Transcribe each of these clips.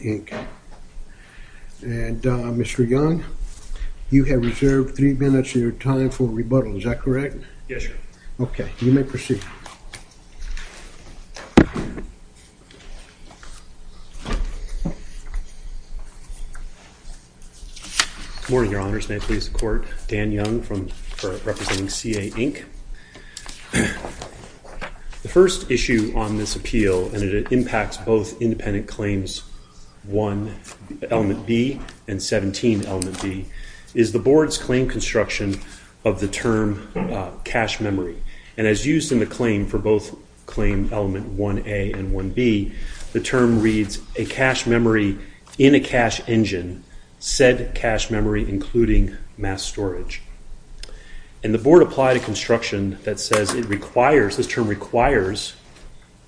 And, Mr. Young, you have reserved three minutes of your time for rebuttal. Is that correct? Yes, Your Honor. Okay. You may proceed. Good morning, Your Honors. May it please the Court. Dan Young, representing C.A., Inc. The first issue on this appeal, and it impacts both independent claims and independent appeals, element B and 17, element B, is the Board's claim construction of the term cache memory. And as used in the claim for both claim element 1A and 1B, the term reads, a cache memory in a cache engine, said cache memory including mass storage. And the Board applied a construction that says it requires, this term requires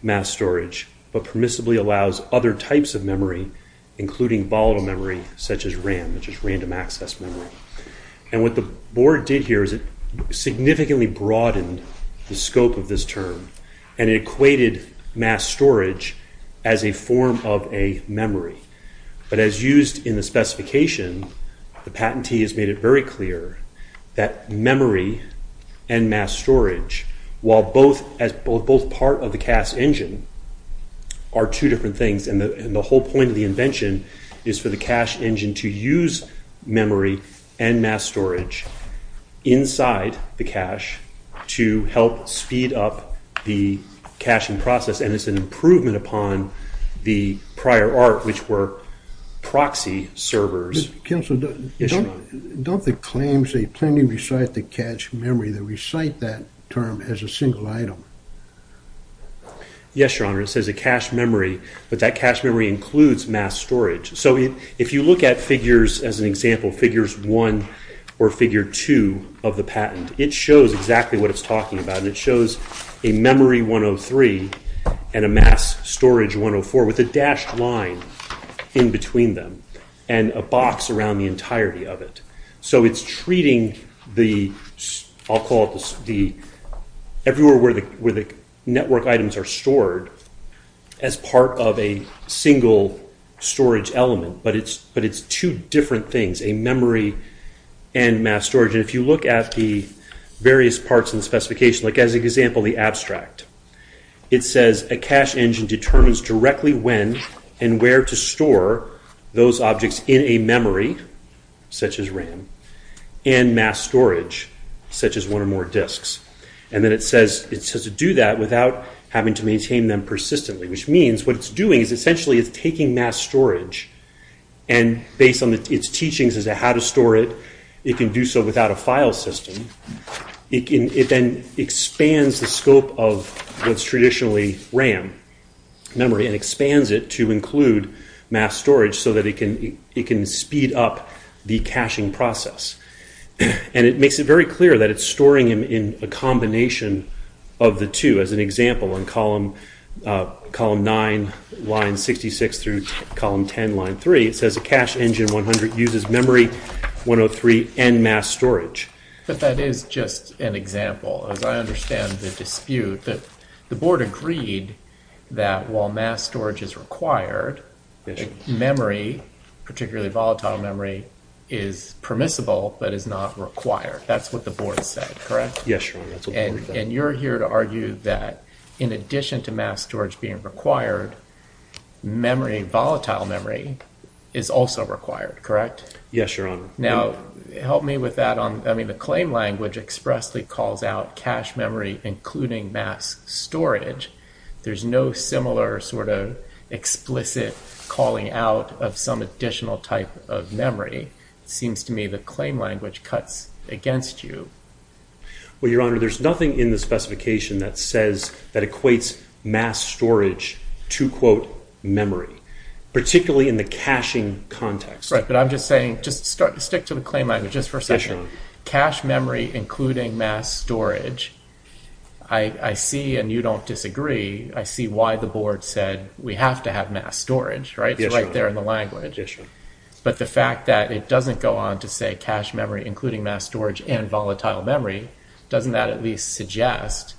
mass storage, but permissibly allows other types of memory including volatile memory such as RAM, which is random access memory. And what the Board did here is it significantly broadened the scope of this term and it equated mass storage as a form of a memory. But as used in the specification, the patentee has made it very clear that memory and mass storage, while both part of the cache engine, are two different things. And the whole point of the invention is for the cache engine to use memory and mass storage inside the cache to help speed up the caching process. And it's an improvement upon the prior art, which were proxy servers. Counselor, don't the claims they plainly recite the cache memory, do they recite that term as a single item? Yes, Your Honor, it says a cache memory, but that cache memory includes mass storage. So if you look at figures, as an example, figures 1 or figure 2 of the patent, it shows exactly what it's talking about. It shows a memory 103 and a mass storage 104 with a dashed line in between them and a box around the entirety of it. So it's treating the, I'll call it the, everywhere where the network items are stored, as part of a single storage element. But it's two different things, a memory and mass storage. And if you look at the various parts in the specification, like as an example, the abstract, it says a cache engine determines directly when and where to store those objects in a memory, such as RAM, and mass storage, such as one or more disks. And then it says to do that without having to maintain them persistently, which means what it's doing is essentially it's taking mass storage and based on its teachings as to how to store it, it can do so without a file system. It then expands the scope of what's traditionally RAM memory and expands it to include mass storage so that it can speed up the caching process. And it makes it very clear that it's storing them in a combination of the two. As an example, in column 9, line 66 through column 10, line 3, it says a cache engine 100 uses memory 103 and mass storage. But that is just an example. As I understand the dispute, the board agreed that while mass storage is required, memory, particularly volatile memory, is permissible but is not required. That's what the board said, correct? Yes, Your Honor. And you're here to argue that in addition to mass storage being required, memory, volatile memory, is also required, correct? Yes, Your Honor. Now, help me with that. I mean the claim language expressly calls out cache memory including mass storage. There's no similar sort of explicit calling out of some additional type of memory. It seems to me the claim language cuts against you. Well, Your Honor, there's nothing in the specification that says, that equates mass storage to, quote, memory, particularly in the caching context. Right, but I'm just saying, just stick to the claim language just for a second. Yes, Your Honor. Cache memory including mass storage, I see and you don't disagree, I see why the board said we have to have mass storage, right? Yes, Your Honor. It's right there in the language. Yes, Your Honor. But the fact that it doesn't go on to say cache memory including mass storage and volatile memory, doesn't that at least suggest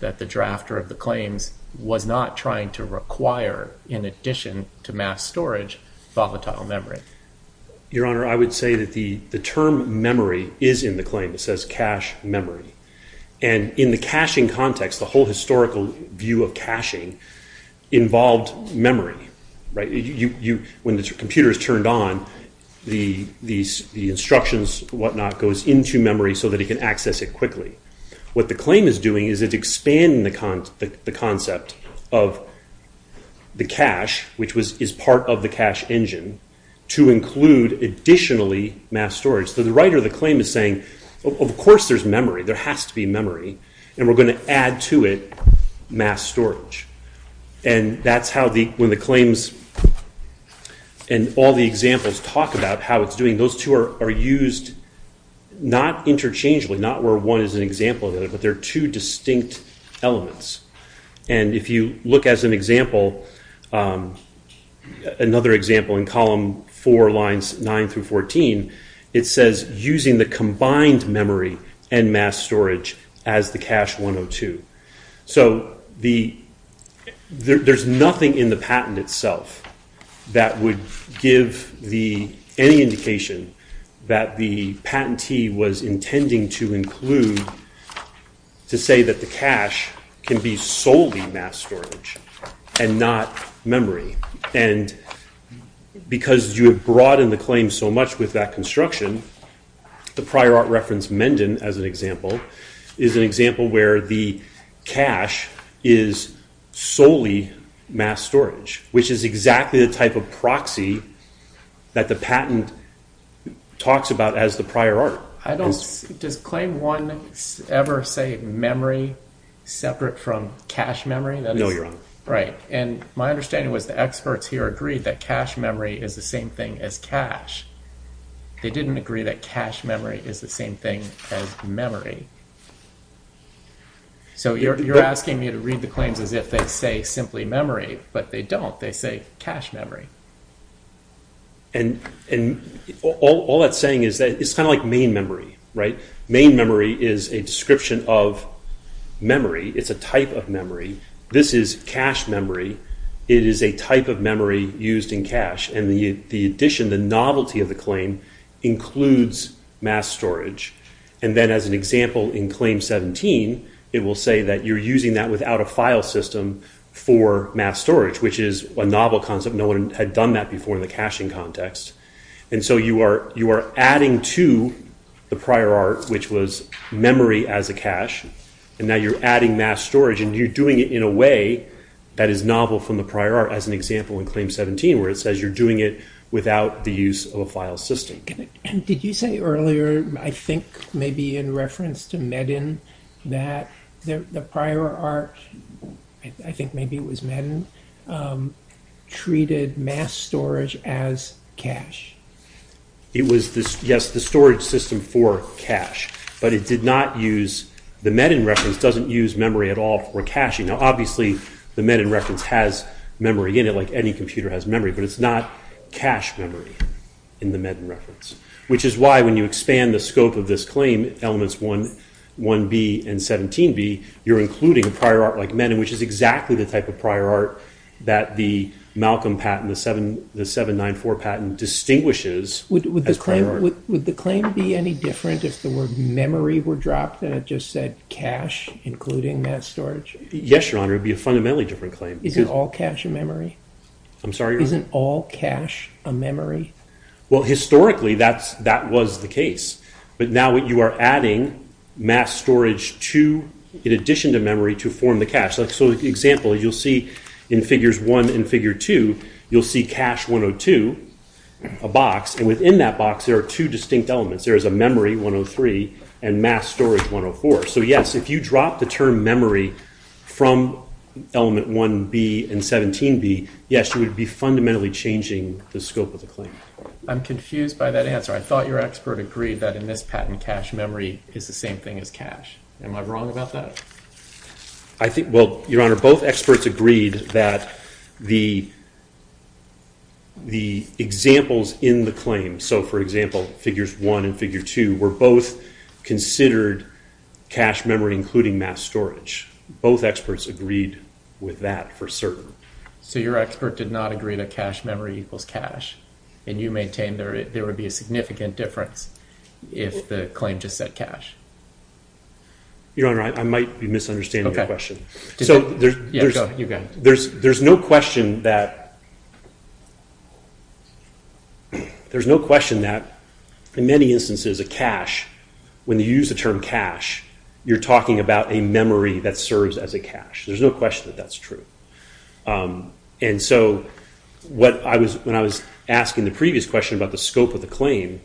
that the drafter of the claims was not trying to require, in addition to mass storage, volatile memory? Your Honor, I would say that the term memory is in the claim. It says cache memory. And in the caching context, the whole historical view of caching involved memory. When the computer is turned on, the instructions, whatnot, goes into memory so that it can access it quickly. What the claim is doing is it's expanding the concept of the cache, which is part of the cache engine, to include additionally mass storage. So the writer of the claim is saying, of course there's memory, there has to be memory, and we're going to add to it mass storage. And that's how the claims and all the examples talk about how it's doing. And those two are used not interchangeably, not where one is an example of it, but they're two distinct elements. And if you look as an example, another example in column 4, lines 9 through 14, it says using the combined memory and mass storage as the cache 102. So there's nothing in the patent itself that would give any indication that the patentee was intending to include to say that the cache can be solely mass storage and not memory. And because you have broadened the claim so much with that construction, the prior art reference Mendon, as an example, is an example where the cache is solely mass storage, which is exactly the type of proxy that the patent talks about as the prior art. Does claim 1 ever say memory separate from cache memory? No, you're wrong. Right. And my understanding was the experts here agreed that cache memory is the same thing as cache. They didn't agree that cache memory is the same thing as memory. So you're asking me to read the claims as if they say simply memory, but they don't. They say cache memory. And all that's saying is that it's kind of like main memory, right? Main memory is a description of memory. It's a type of memory. This is cache memory. It is a type of memory used in cache. And the addition, the novelty of the claim includes mass storage. And then as an example in Claim 17, it will say that you're using that without a file system for mass storage, which is a novel concept. No one had done that before in the caching context. And so you are adding to the prior art, which was memory as a cache. And now you're adding mass storage, and you're doing it in a way that is novel from the prior art, as an example in Claim 17, where it says you're doing it without the use of a file system. Did you say earlier, I think maybe in reference to Medin, that the prior art, I think maybe it was Medin, treated mass storage as cache? It was, yes, the storage system for cache. But it did not use, the Medin reference doesn't use memory at all for caching. Now obviously the Medin reference has memory in it, like any computer has memory, but it's not cache memory in the Medin reference. Which is why when you expand the scope of this claim, Elements 1B and 17B, you're including a prior art like Medin, which is exactly the type of prior art that the Malcolm patent, the 794 patent, distinguishes as prior art. Would the claim be any different if the word memory were dropped and it just said cache, including mass storage? Yes, Your Honor, it would be a fundamentally different claim. Is it all cache and memory? I'm sorry, Your Honor? Isn't all cache a memory? Well, historically that was the case. But now you are adding mass storage in addition to memory to form the cache. So, for example, you'll see in Figures 1 and Figure 2, you'll see cache 102, a box, and within that box there are two distinct elements. There is a memory, 103, and mass storage, 104. So, yes, if you drop the term memory from Element 1B and 17B, yes, you would be fundamentally changing the scope of the claim. I'm confused by that answer. I thought your expert agreed that in this patent cache memory is the same thing as cache. Am I wrong about that? Well, Your Honor, both experts agreed that the examples in the claim, so, for example, Figures 1 and Figure 2, were both considered cache memory including mass storage. Both experts agreed with that for certain. So your expert did not agree that cache memory equals cache, and you maintain there would be a significant difference if the claim just said cache? Your Honor, I might be misunderstanding your question. There's no question that in many instances a cache, when you use the term cache, you're talking about a memory that serves as a cache. There's no question that that's true. And so when I was asking the previous question about the scope of the claim,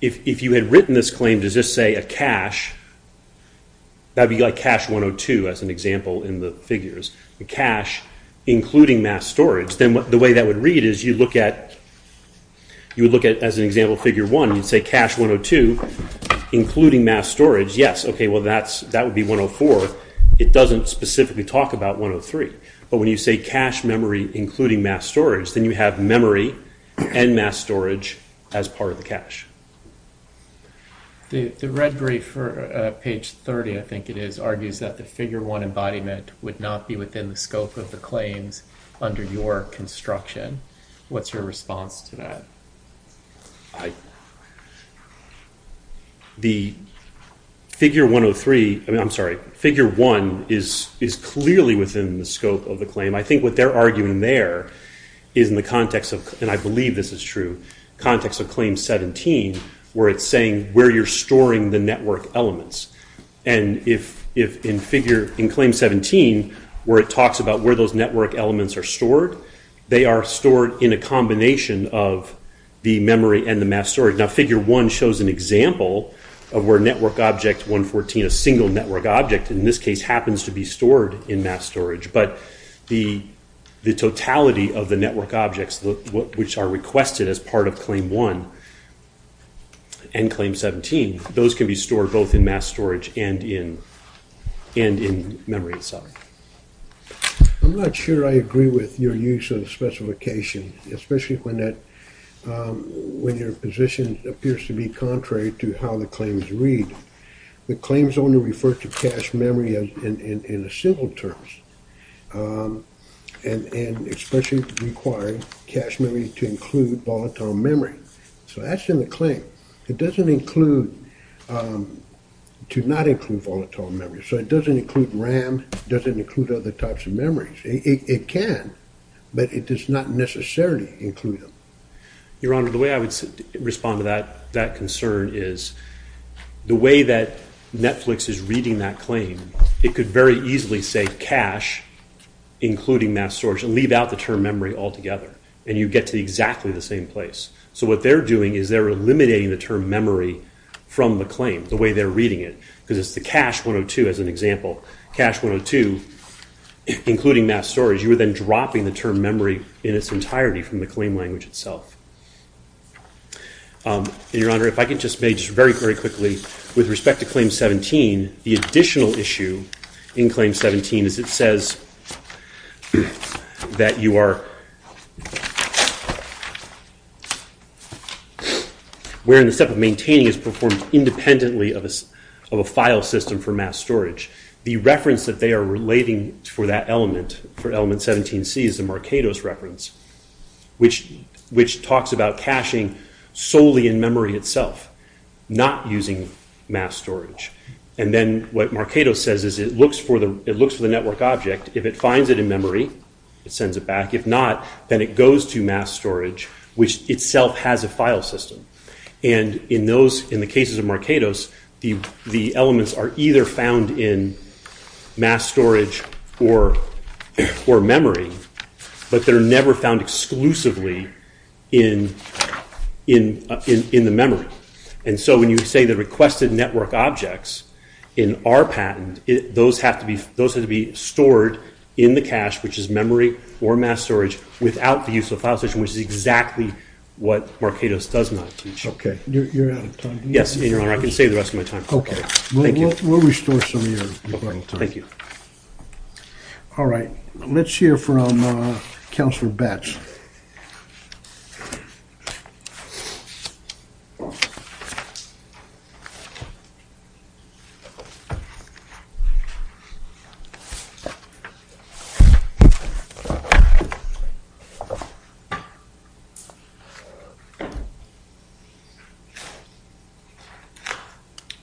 if you had written this claim to just say a cache, that would be like cache 102 as an example in the figures, cache including mass storage, then the way that would read is you would look at, as an example of Figure 1, you'd say cache 102 including mass storage. Yes, okay, well, that would be 104. It doesn't specifically talk about 103. But when you say cache memory including mass storage, then you have memory and mass storage as part of the cache. The red brief for page 30, I think it is, argues that the Figure 1 embodiment would not be within the scope of the claims under your construction. What's your response to that? The Figure 103, I'm sorry, Figure 1 is clearly within the scope of the claim. I think what they're arguing there is in the context of, and I believe this is true, in the context of Claim 17, where it's saying where you're storing the network elements. And in Claim 17, where it talks about where those network elements are stored, they are stored in a combination of the memory and the mass storage. Now, Figure 1 shows an example of where Network Object 114, a single network object in this case, happens to be stored in mass storage. But the totality of the network objects, which are requested as part of Claim 1 and Claim 17, those can be stored both in mass storage and in memory itself. I'm not sure I agree with your use of the specification, especially when your position appears to be contrary to how the claims read. The claims only refer to cache memory in simple terms and especially require cache memory to include volatile memory. So that's in the claim. It doesn't include to not include volatile memory. So it doesn't include RAM. It doesn't include other types of memories. It can, but it does not necessarily include them. Your Honor, the way I would respond to that concern is the way that Netflix is reading that claim, it could very easily say cache, including mass storage, and leave out the term memory altogether, and you get to exactly the same place. So what they're doing is they're eliminating the term memory from the claim, the way they're reading it, because it's the cache 102, as an example. Cache 102, including mass storage. You are then dropping the term memory in its entirety from the claim language itself. And, Your Honor, if I could just make, just very, very quickly, with respect to Claim 17, the additional issue in Claim 17 is it says that you are, wherein the step of maintaining is performed independently of a file system for mass storage. The reference that they are relating for that element, for Element 17c, is the Markados reference, which talks about caching solely in memory itself, not using mass storage. And then what Markados says is it looks for the network object. If it finds it in memory, it sends it back. If not, then it goes to mass storage, which itself has a file system. And in the cases of Markados, the elements are either found in mass storage or memory, but they're never found exclusively in the memory. And so when you say the requested network objects in our patent, those have to be stored in the cache, which is memory or mass storage, without the use of a file system, which is exactly what Markados does not teach. Okay, you're out of time. Yes, and, Your Honor, I can save the rest of my time. Okay. Thank you. We'll restore some of your time. Thank you. All right. Let's hear from Counselor Batts.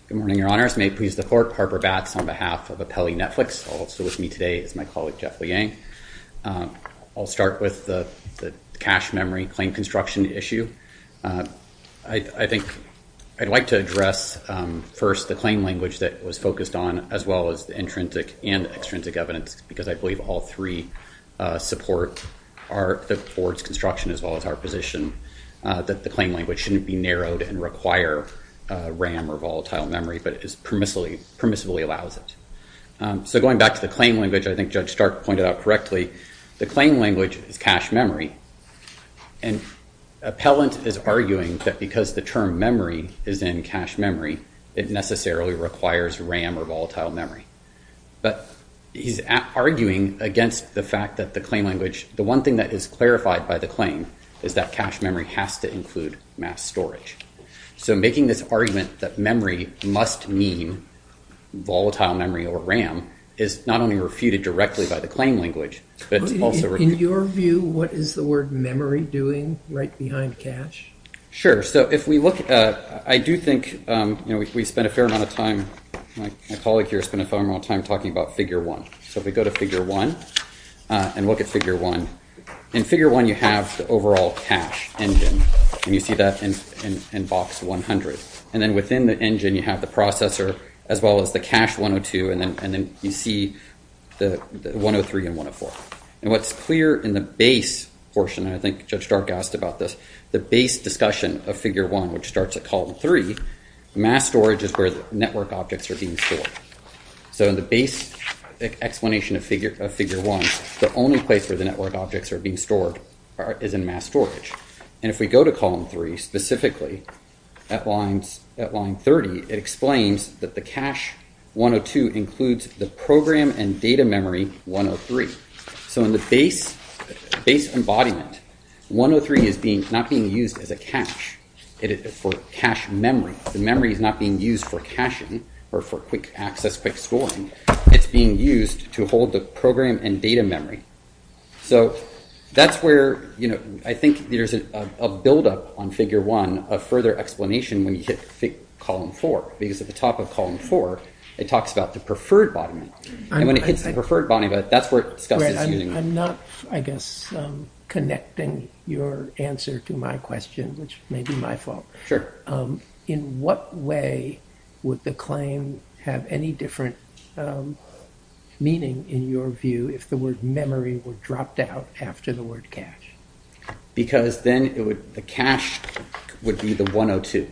Good morning, Your Honors. May it please the Court, I'm Harper Batts on behalf of Apelli Netflix. Also with me today is my colleague, Jeff Liang. I'll start with the cache memory claim construction issue. I think I'd like to address first the claim language that was focused on, as well as the intrinsic and extrinsic evidence, because I believe all three support the board's construction as well as our position that the claim language shouldn't be narrowed and require RAM or volatile memory, but it permissibly allows it. So going back to the claim language, I think Judge Stark pointed out correctly, the claim language is cache memory, and Appellant is arguing that because the term memory is in cache memory, it necessarily requires RAM or volatile memory. But he's arguing against the fact that the claim language, the one thing that is clarified by the claim is that cache memory has to include mass storage. So making this argument that memory must mean volatile memory or RAM is not only refuted directly by the claim language, but it's also refuted. In your view, what is the word memory doing right behind cache? Sure. So if we look, I do think we spent a fair amount of time, my colleague here spent a fair amount of time talking about Figure 1. So if we go to Figure 1 and look at Figure 1, in Figure 1 you have the overall cache engine. And you see that in box 100. And then within the engine you have the processor as well as the cache 102, and then you see the 103 and 104. And what's clear in the base portion, and I think Judge Stark asked about this, the base discussion of Figure 1, which starts at column 3, mass storage is where the network objects are being stored. So in the base explanation of Figure 1, the only place where the network objects are being stored is in mass storage. And if we go to column 3, specifically at line 30, it explains that the cache 102 includes the program and data memory 103. So in the base embodiment, 103 is not being used as a cache for cache memory. The memory is not being used for caching or for quick access, quick scoring. It's being used to hold the program and data memory. So that's where I think there's a buildup on Figure 1, a further explanation when you hit column 4. Because at the top of column 4, it talks about the preferred embodiment. And when it hits the preferred embodiment, that's where it discusses using it. I'm not, I guess, connecting your answer to my question, which may be my fault. Sure. In what way would the claim have any different meaning in your view if the word memory were dropped out after the word cache? Because then the cache would be the 102.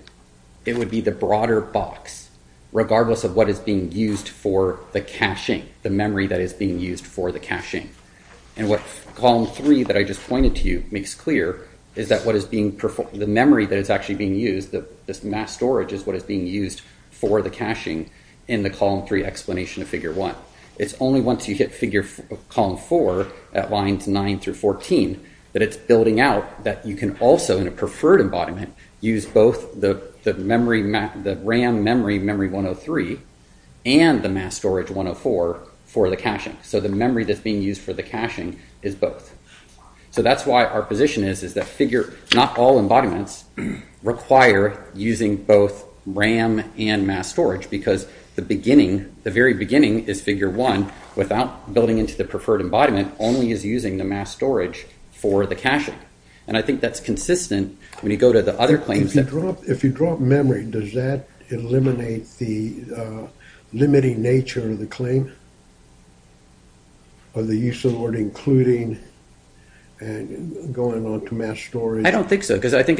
It would be the broader box, regardless of what is being used for the caching, the memory that is being used for the caching. And what column 3 that I just pointed to you makes clear is that what is being, the memory that is actually being used, this mass storage is what is being used for the caching in the column 3 explanation of Figure 1. It's only once you hit column 4 at lines 9 through 14 that it's building out that you can also, in a preferred embodiment, use both the RAM memory, memory 103, and the mass storage 104 for the caching. So the memory that's being used for the caching is both. So that's why our position is that not all embodiments require using both RAM and mass storage because the beginning, the very beginning is Figure 1 without building into the preferred embodiment only is using the mass storage for the caching. And I think that's consistent when you go to the other claims. If you drop memory, does that eliminate the limiting nature of the claim or the use of the word including going on to mass storage? I don't think so because I think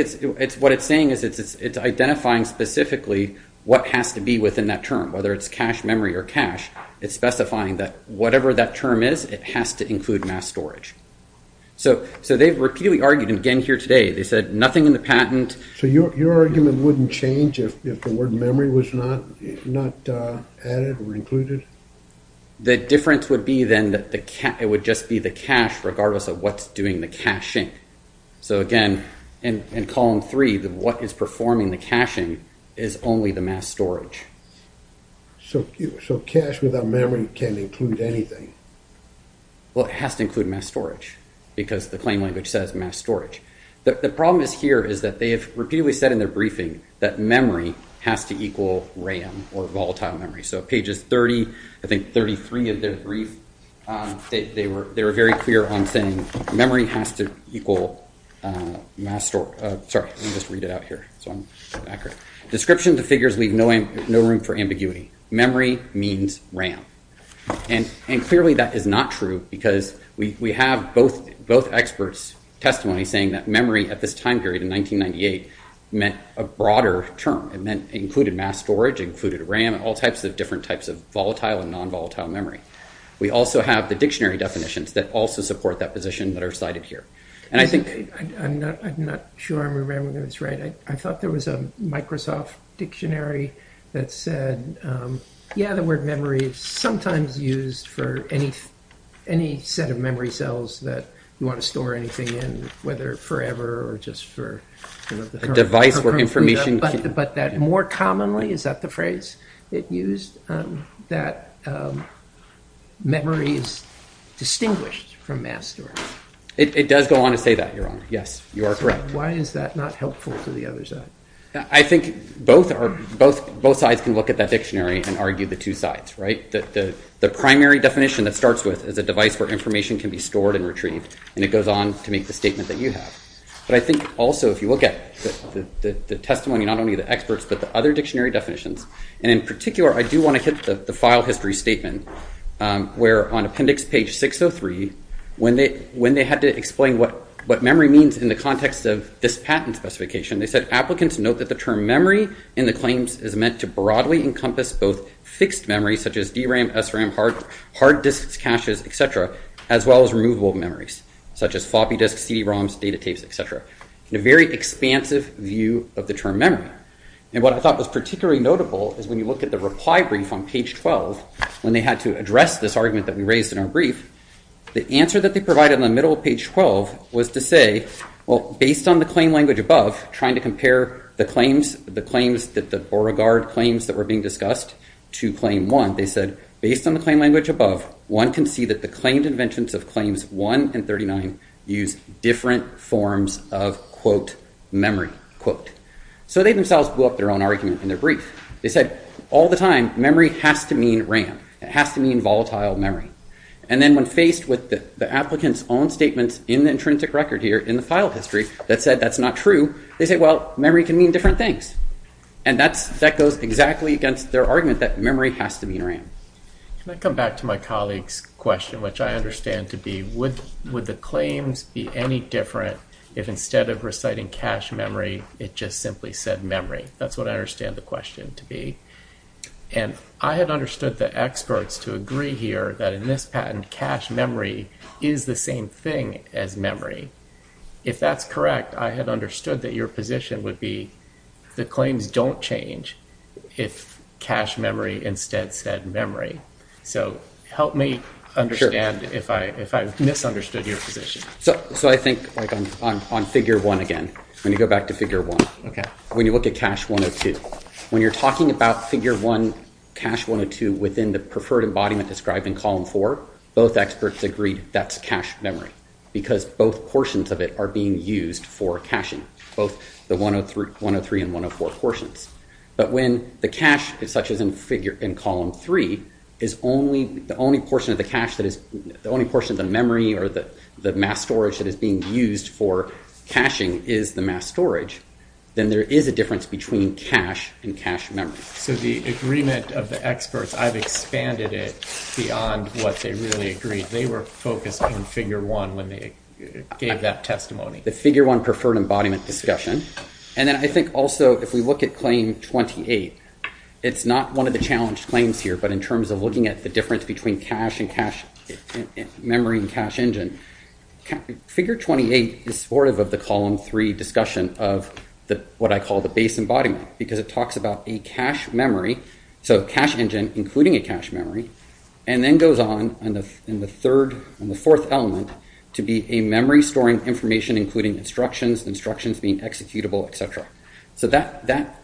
what it's saying is it's identifying specifically what has to be within that term, whether it's cache memory or cache. It's specifying that whatever that term is, it has to include mass storage. So they've repeatedly argued, and again here today, they said nothing in the patent. So your argument wouldn't change if the word memory was not added or included? The difference would be then that it would just be the cache regardless of what's doing the caching. So again, in column three, what is performing the caching is only the mass storage. So cache without memory can include anything? Well, it has to include mass storage because the claim language says mass storage. The problem here is that they have repeatedly said in their briefing that memory has to equal RAM or volatile memory. So pages 30, I think 33 of their brief, they were very clear on saying memory has to equal mass storage. Sorry, let me just read it out here so I'm accurate. Description of the figures leave no room for ambiguity. Memory means RAM. And clearly that is not true because we have both experts' testimony saying that memory at this time period in 1998 meant a broader term. It meant included mass storage, included RAM, and all types of different types of volatile and nonvolatile memory. We also have the dictionary definitions that also support that position that are cited here. And I think... I'm not sure I'm remembering this right. I thought there was a Microsoft dictionary that said, yeah, the word memory is sometimes used for any set of memory cells that you want to store anything in, whether forever or just for... A device where information... But that more commonly, is that the phrase it used? That memory is distinguished from mass storage? It does go on to say that, Your Honor. Yes, you are correct. Why is that not helpful to the other side? I think both sides can look at that dictionary and argue the two sides, right? The primary definition that starts with is a device where information can be stored and retrieved, and it goes on to make the statement that you have. But I think also if you look at the testimony, not only the experts but the other dictionary definitions, and in particular, I do want to hit the file history statement, where on appendix page 603, when they had to explain what memory means in the context of this patent specification, they said applicants note that the term memory in the claims is meant to broadly encompass both fixed memory, such as DRAM, SRAM, hard disks, caches, etc., as well as removable memories, such as floppy disks, CD-ROMs, data tapes, etc., in a very expansive view of the term memory. And what I thought was particularly notable is when you look at the reply brief on page 12, when they had to address this argument that we raised in our brief, the answer that they provided in the middle of page 12 was to say, well, based on the claim language above, trying to compare the claims, the claims that the Beauregard claims that were being discussed to claim one, they said, based on the claim language above, one can see that the claimed inventions of claims one and 39 use different forms of, quote, memory, quote. So they themselves blew up their own argument in their brief. They said, all the time, memory has to mean RAM. It has to mean volatile memory. And then when faced with the applicant's own statements in the intrinsic record here, in the file history, that said that's not true, they said, well, memory can mean different things. And that goes exactly against their argument that memory has to mean RAM. Can I come back to my colleague's question, which I understand to be, would the claims be any different if instead of reciting cache memory, it just simply said memory? That's what I understand the question to be. And I had understood the experts to agree here that in this patent, cache memory is the same thing as memory. If that's correct, I had understood that your position would be the claims don't change if cache memory instead said memory. So help me understand if I misunderstood your position. So I think on figure 1 again, when you go back to figure 1, when you look at cache 102, when you're talking about figure 1, cache 102 within the preferred embodiment described in column 4, both experts agreed that's cache memory because both portions of it are being used for caching, both the 103 and 104 portions. But when the cache, such as in column 3, is the only portion of the cache, the only portion of the memory or the mass storage that is being used for caching is the mass storage, then there is a difference between cache and cache memory. So the agreement of the experts, I've expanded it beyond what they really agreed. They were focused on figure 1 when they gave that testimony. The figure 1 preferred embodiment discussion. And then I think also if we look at claim 28, it's not one of the challenged claims here, but in terms of looking at the difference between cache and cache memory and cache engine, figure 28 is supportive of the column 3 discussion of what I call the base embodiment because it talks about a cache memory, so cache engine including a cache memory, and then goes on in the third and the fourth element to be a memory storing information including instructions, instructions being executable, et cetera. So that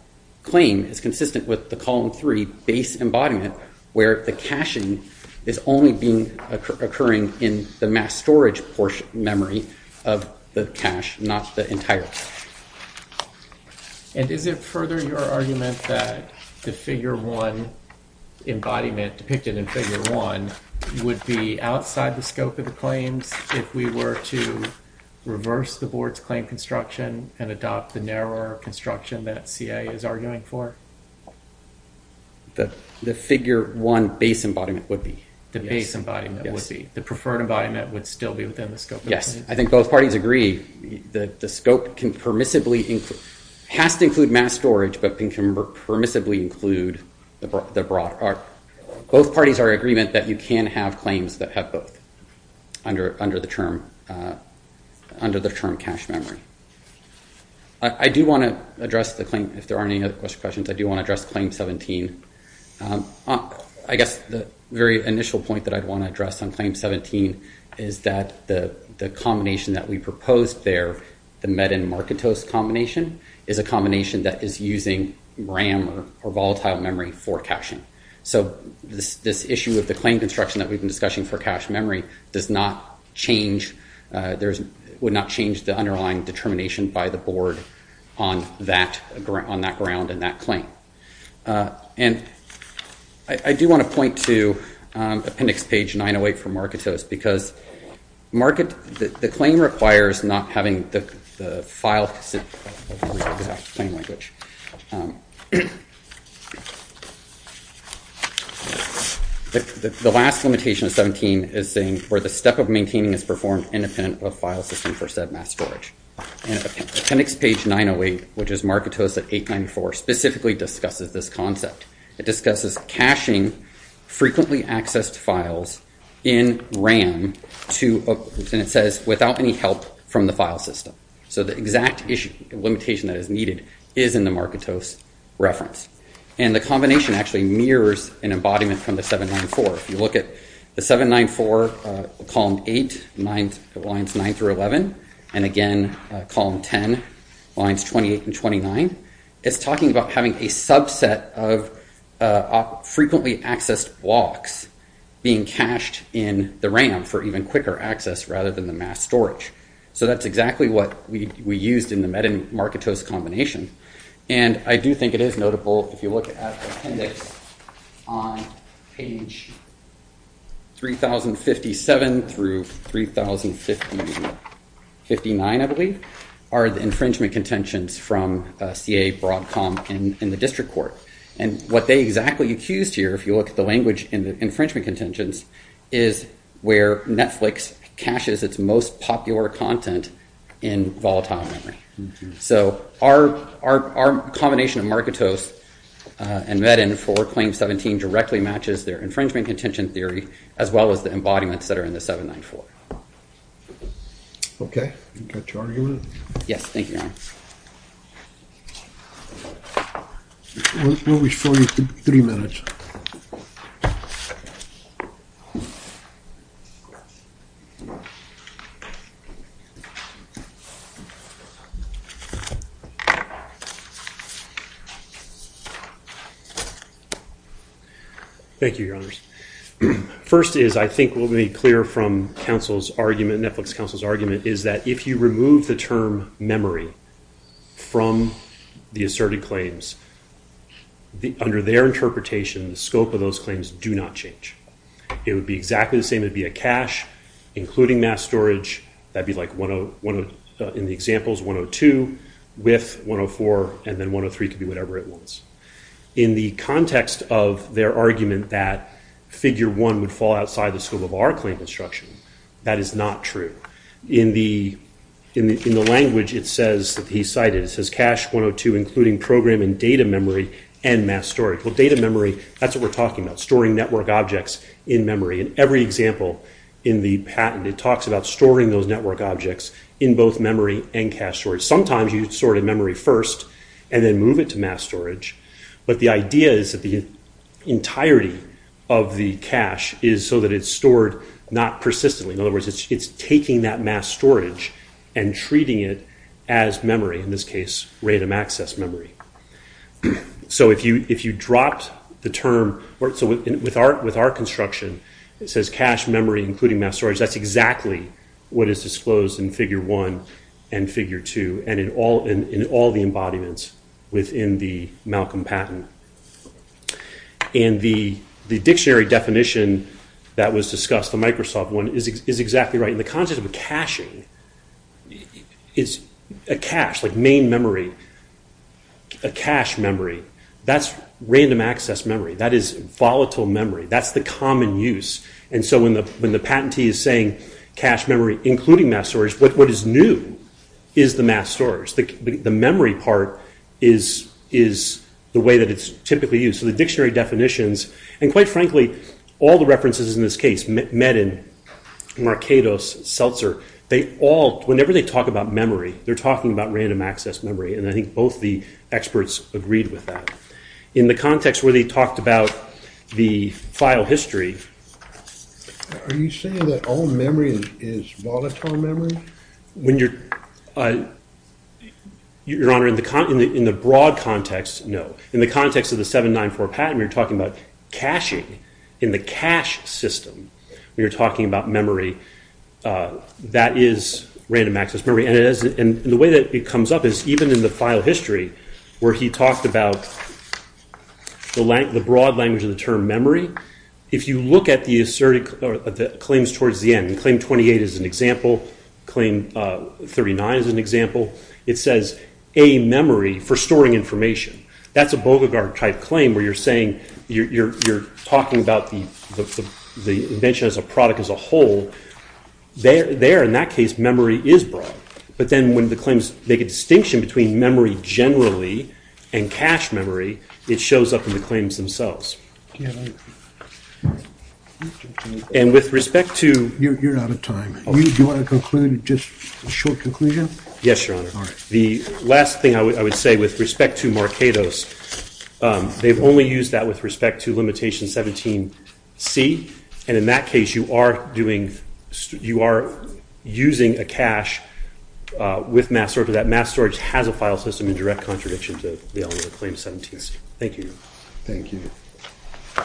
claim is consistent with the column 3 base embodiment where the caching is only occurring in the mass storage portion memory of the cache, not the entirety. And is it further your argument that the figure 1 embodiment depicted in figure 1 would be outside the scope of the claims if we were to reverse the board's claim construction and adopt the narrower construction that CA is arguing for? The figure 1 base embodiment would be. The base embodiment would be. The preferred embodiment would still be within the scope. Yes. I think both parties agree that the scope can permissibly include, has to include mass storage, but can permissibly include the broad, both parties are in agreement that you can have claims that have both under the term cache memory. I do want to address the claim, if there aren't any other questions, I do want to address claim 17. I guess the very initial point that I'd want to address on claim 17 is that the combination that we proposed there, the Medin-Markitos combination, is a combination that is using RAM or volatile memory for caching. So this issue of the claim construction that we've been discussing for cache memory does not change, would not change the underlying determination by the board on that ground and that claim. And I do want to point to appendix page 908 from Markitos because the claim requires not having the file, the last limitation of 17 is saying where the step of maintaining is performed independent of file system for said mass storage. Appendix page 908, which is Markitos at 894, specifically discusses this concept. It discusses caching frequently accessed files in RAM to, and it says without any help from the file system. So the exact issue, limitation that is needed is in the Markitos reference. And the combination actually mirrors an embodiment from the 794. If you look at the 794 column 8, lines 9 through 11, and again column 10, lines 28 and 29, it's talking about having a subset of frequently accessed blocks being cached in the RAM for even quicker access rather than the mass storage. So that's exactly what we used in the Medin-Markitos combination. And I do think it is notable, if you look at the appendix on page 3057 through 3059, I believe, are the infringement contentions from CA Broadcom in the district court. And what they exactly accused here, if you look at the language in the infringement contentions, is where Netflix caches its most popular content in volatile memory. So our combination of Markitos and Medin for claim 17 directly matches their infringement contention theory as well as the embodiments that are in the 794. OK. You got your argument? Yes. Thank you, Your Honor. We'll be showing you in three minutes. Thank you. Thank you, Your Honors. First is, I think we'll be clear from counsel's argument, Netflix counsel's argument, is that if you remove the term memory from the asserted claims, under their interpretation, the scope of those claims do not change. It would be exactly the same. It'd be a cache, including mass storage. That'd be like, in the examples, 102 with 104, and then 103 could be whatever it wants. In the context of their argument that figure one would fall outside the scope of our claim construction, that is not true. In the language it says that he cited, it says cache 102, including program and data memory and mass storage. Well, data memory, that's what we're talking about, storing network objects in memory. In every example in the patent, it talks about storing those network objects in both memory and cache storage. Sometimes you'd sort of memory first and then move it to mass storage. But the idea is that the entirety of the cache is so that it's stored not persistently. In other words, it's taking that mass storage and treating it as memory, in this case, random access memory. So if you dropped the term, with our construction, it says cache memory, including mass storage. That's exactly what is disclosed in figure one and figure two and in all the embodiments within the Malcolm patent. And the dictionary definition that was discussed, the Microsoft one, is exactly right. And the concept of a caching is a cache, like main memory, a cache memory. That's random access memory. That is volatile memory. That's the common use. And so when the patentee is saying cache memory, including mass storage, what is new is the mass storage. The memory part is the way that it's typically used. So the dictionary definitions, and quite frankly, all the references in this case, Meden, Markados, Seltzer, they all, whenever they talk about memory, they're talking about random access memory. And I think both the experts agreed with that. In the context where they talked about the file history. Are you saying that all memory is volatile memory? When you're, Your Honor, in the broad context, no. In the context of the 794 patent, we're talking about caching in the cache system. When you're talking about memory, that is random access memory. And the way that it comes up is, even in the file history, where he talked about the broad language of the term memory, if you look at the claims towards the end, claim 28 is an example. Claim 39 is an example. It says, A, memory for storing information. That's a Boggart-type claim where you're saying, you're talking about the invention as a product as a whole. There, in that case, memory is broad. But then when the claims make a distinction between memory generally and cache memory, it shows up in the claims themselves. And with respect to- You're out of time. Do you want to conclude, just a short conclusion? Yes, Your Honor. The last thing I would say with respect to Markados, they've only used that with respect to limitation 17C. And in that case, you are using a cache with mass storage. But that mass storage has a file system in direct contradiction to the only claim 17C. Thank you, Your Honor. Thank you.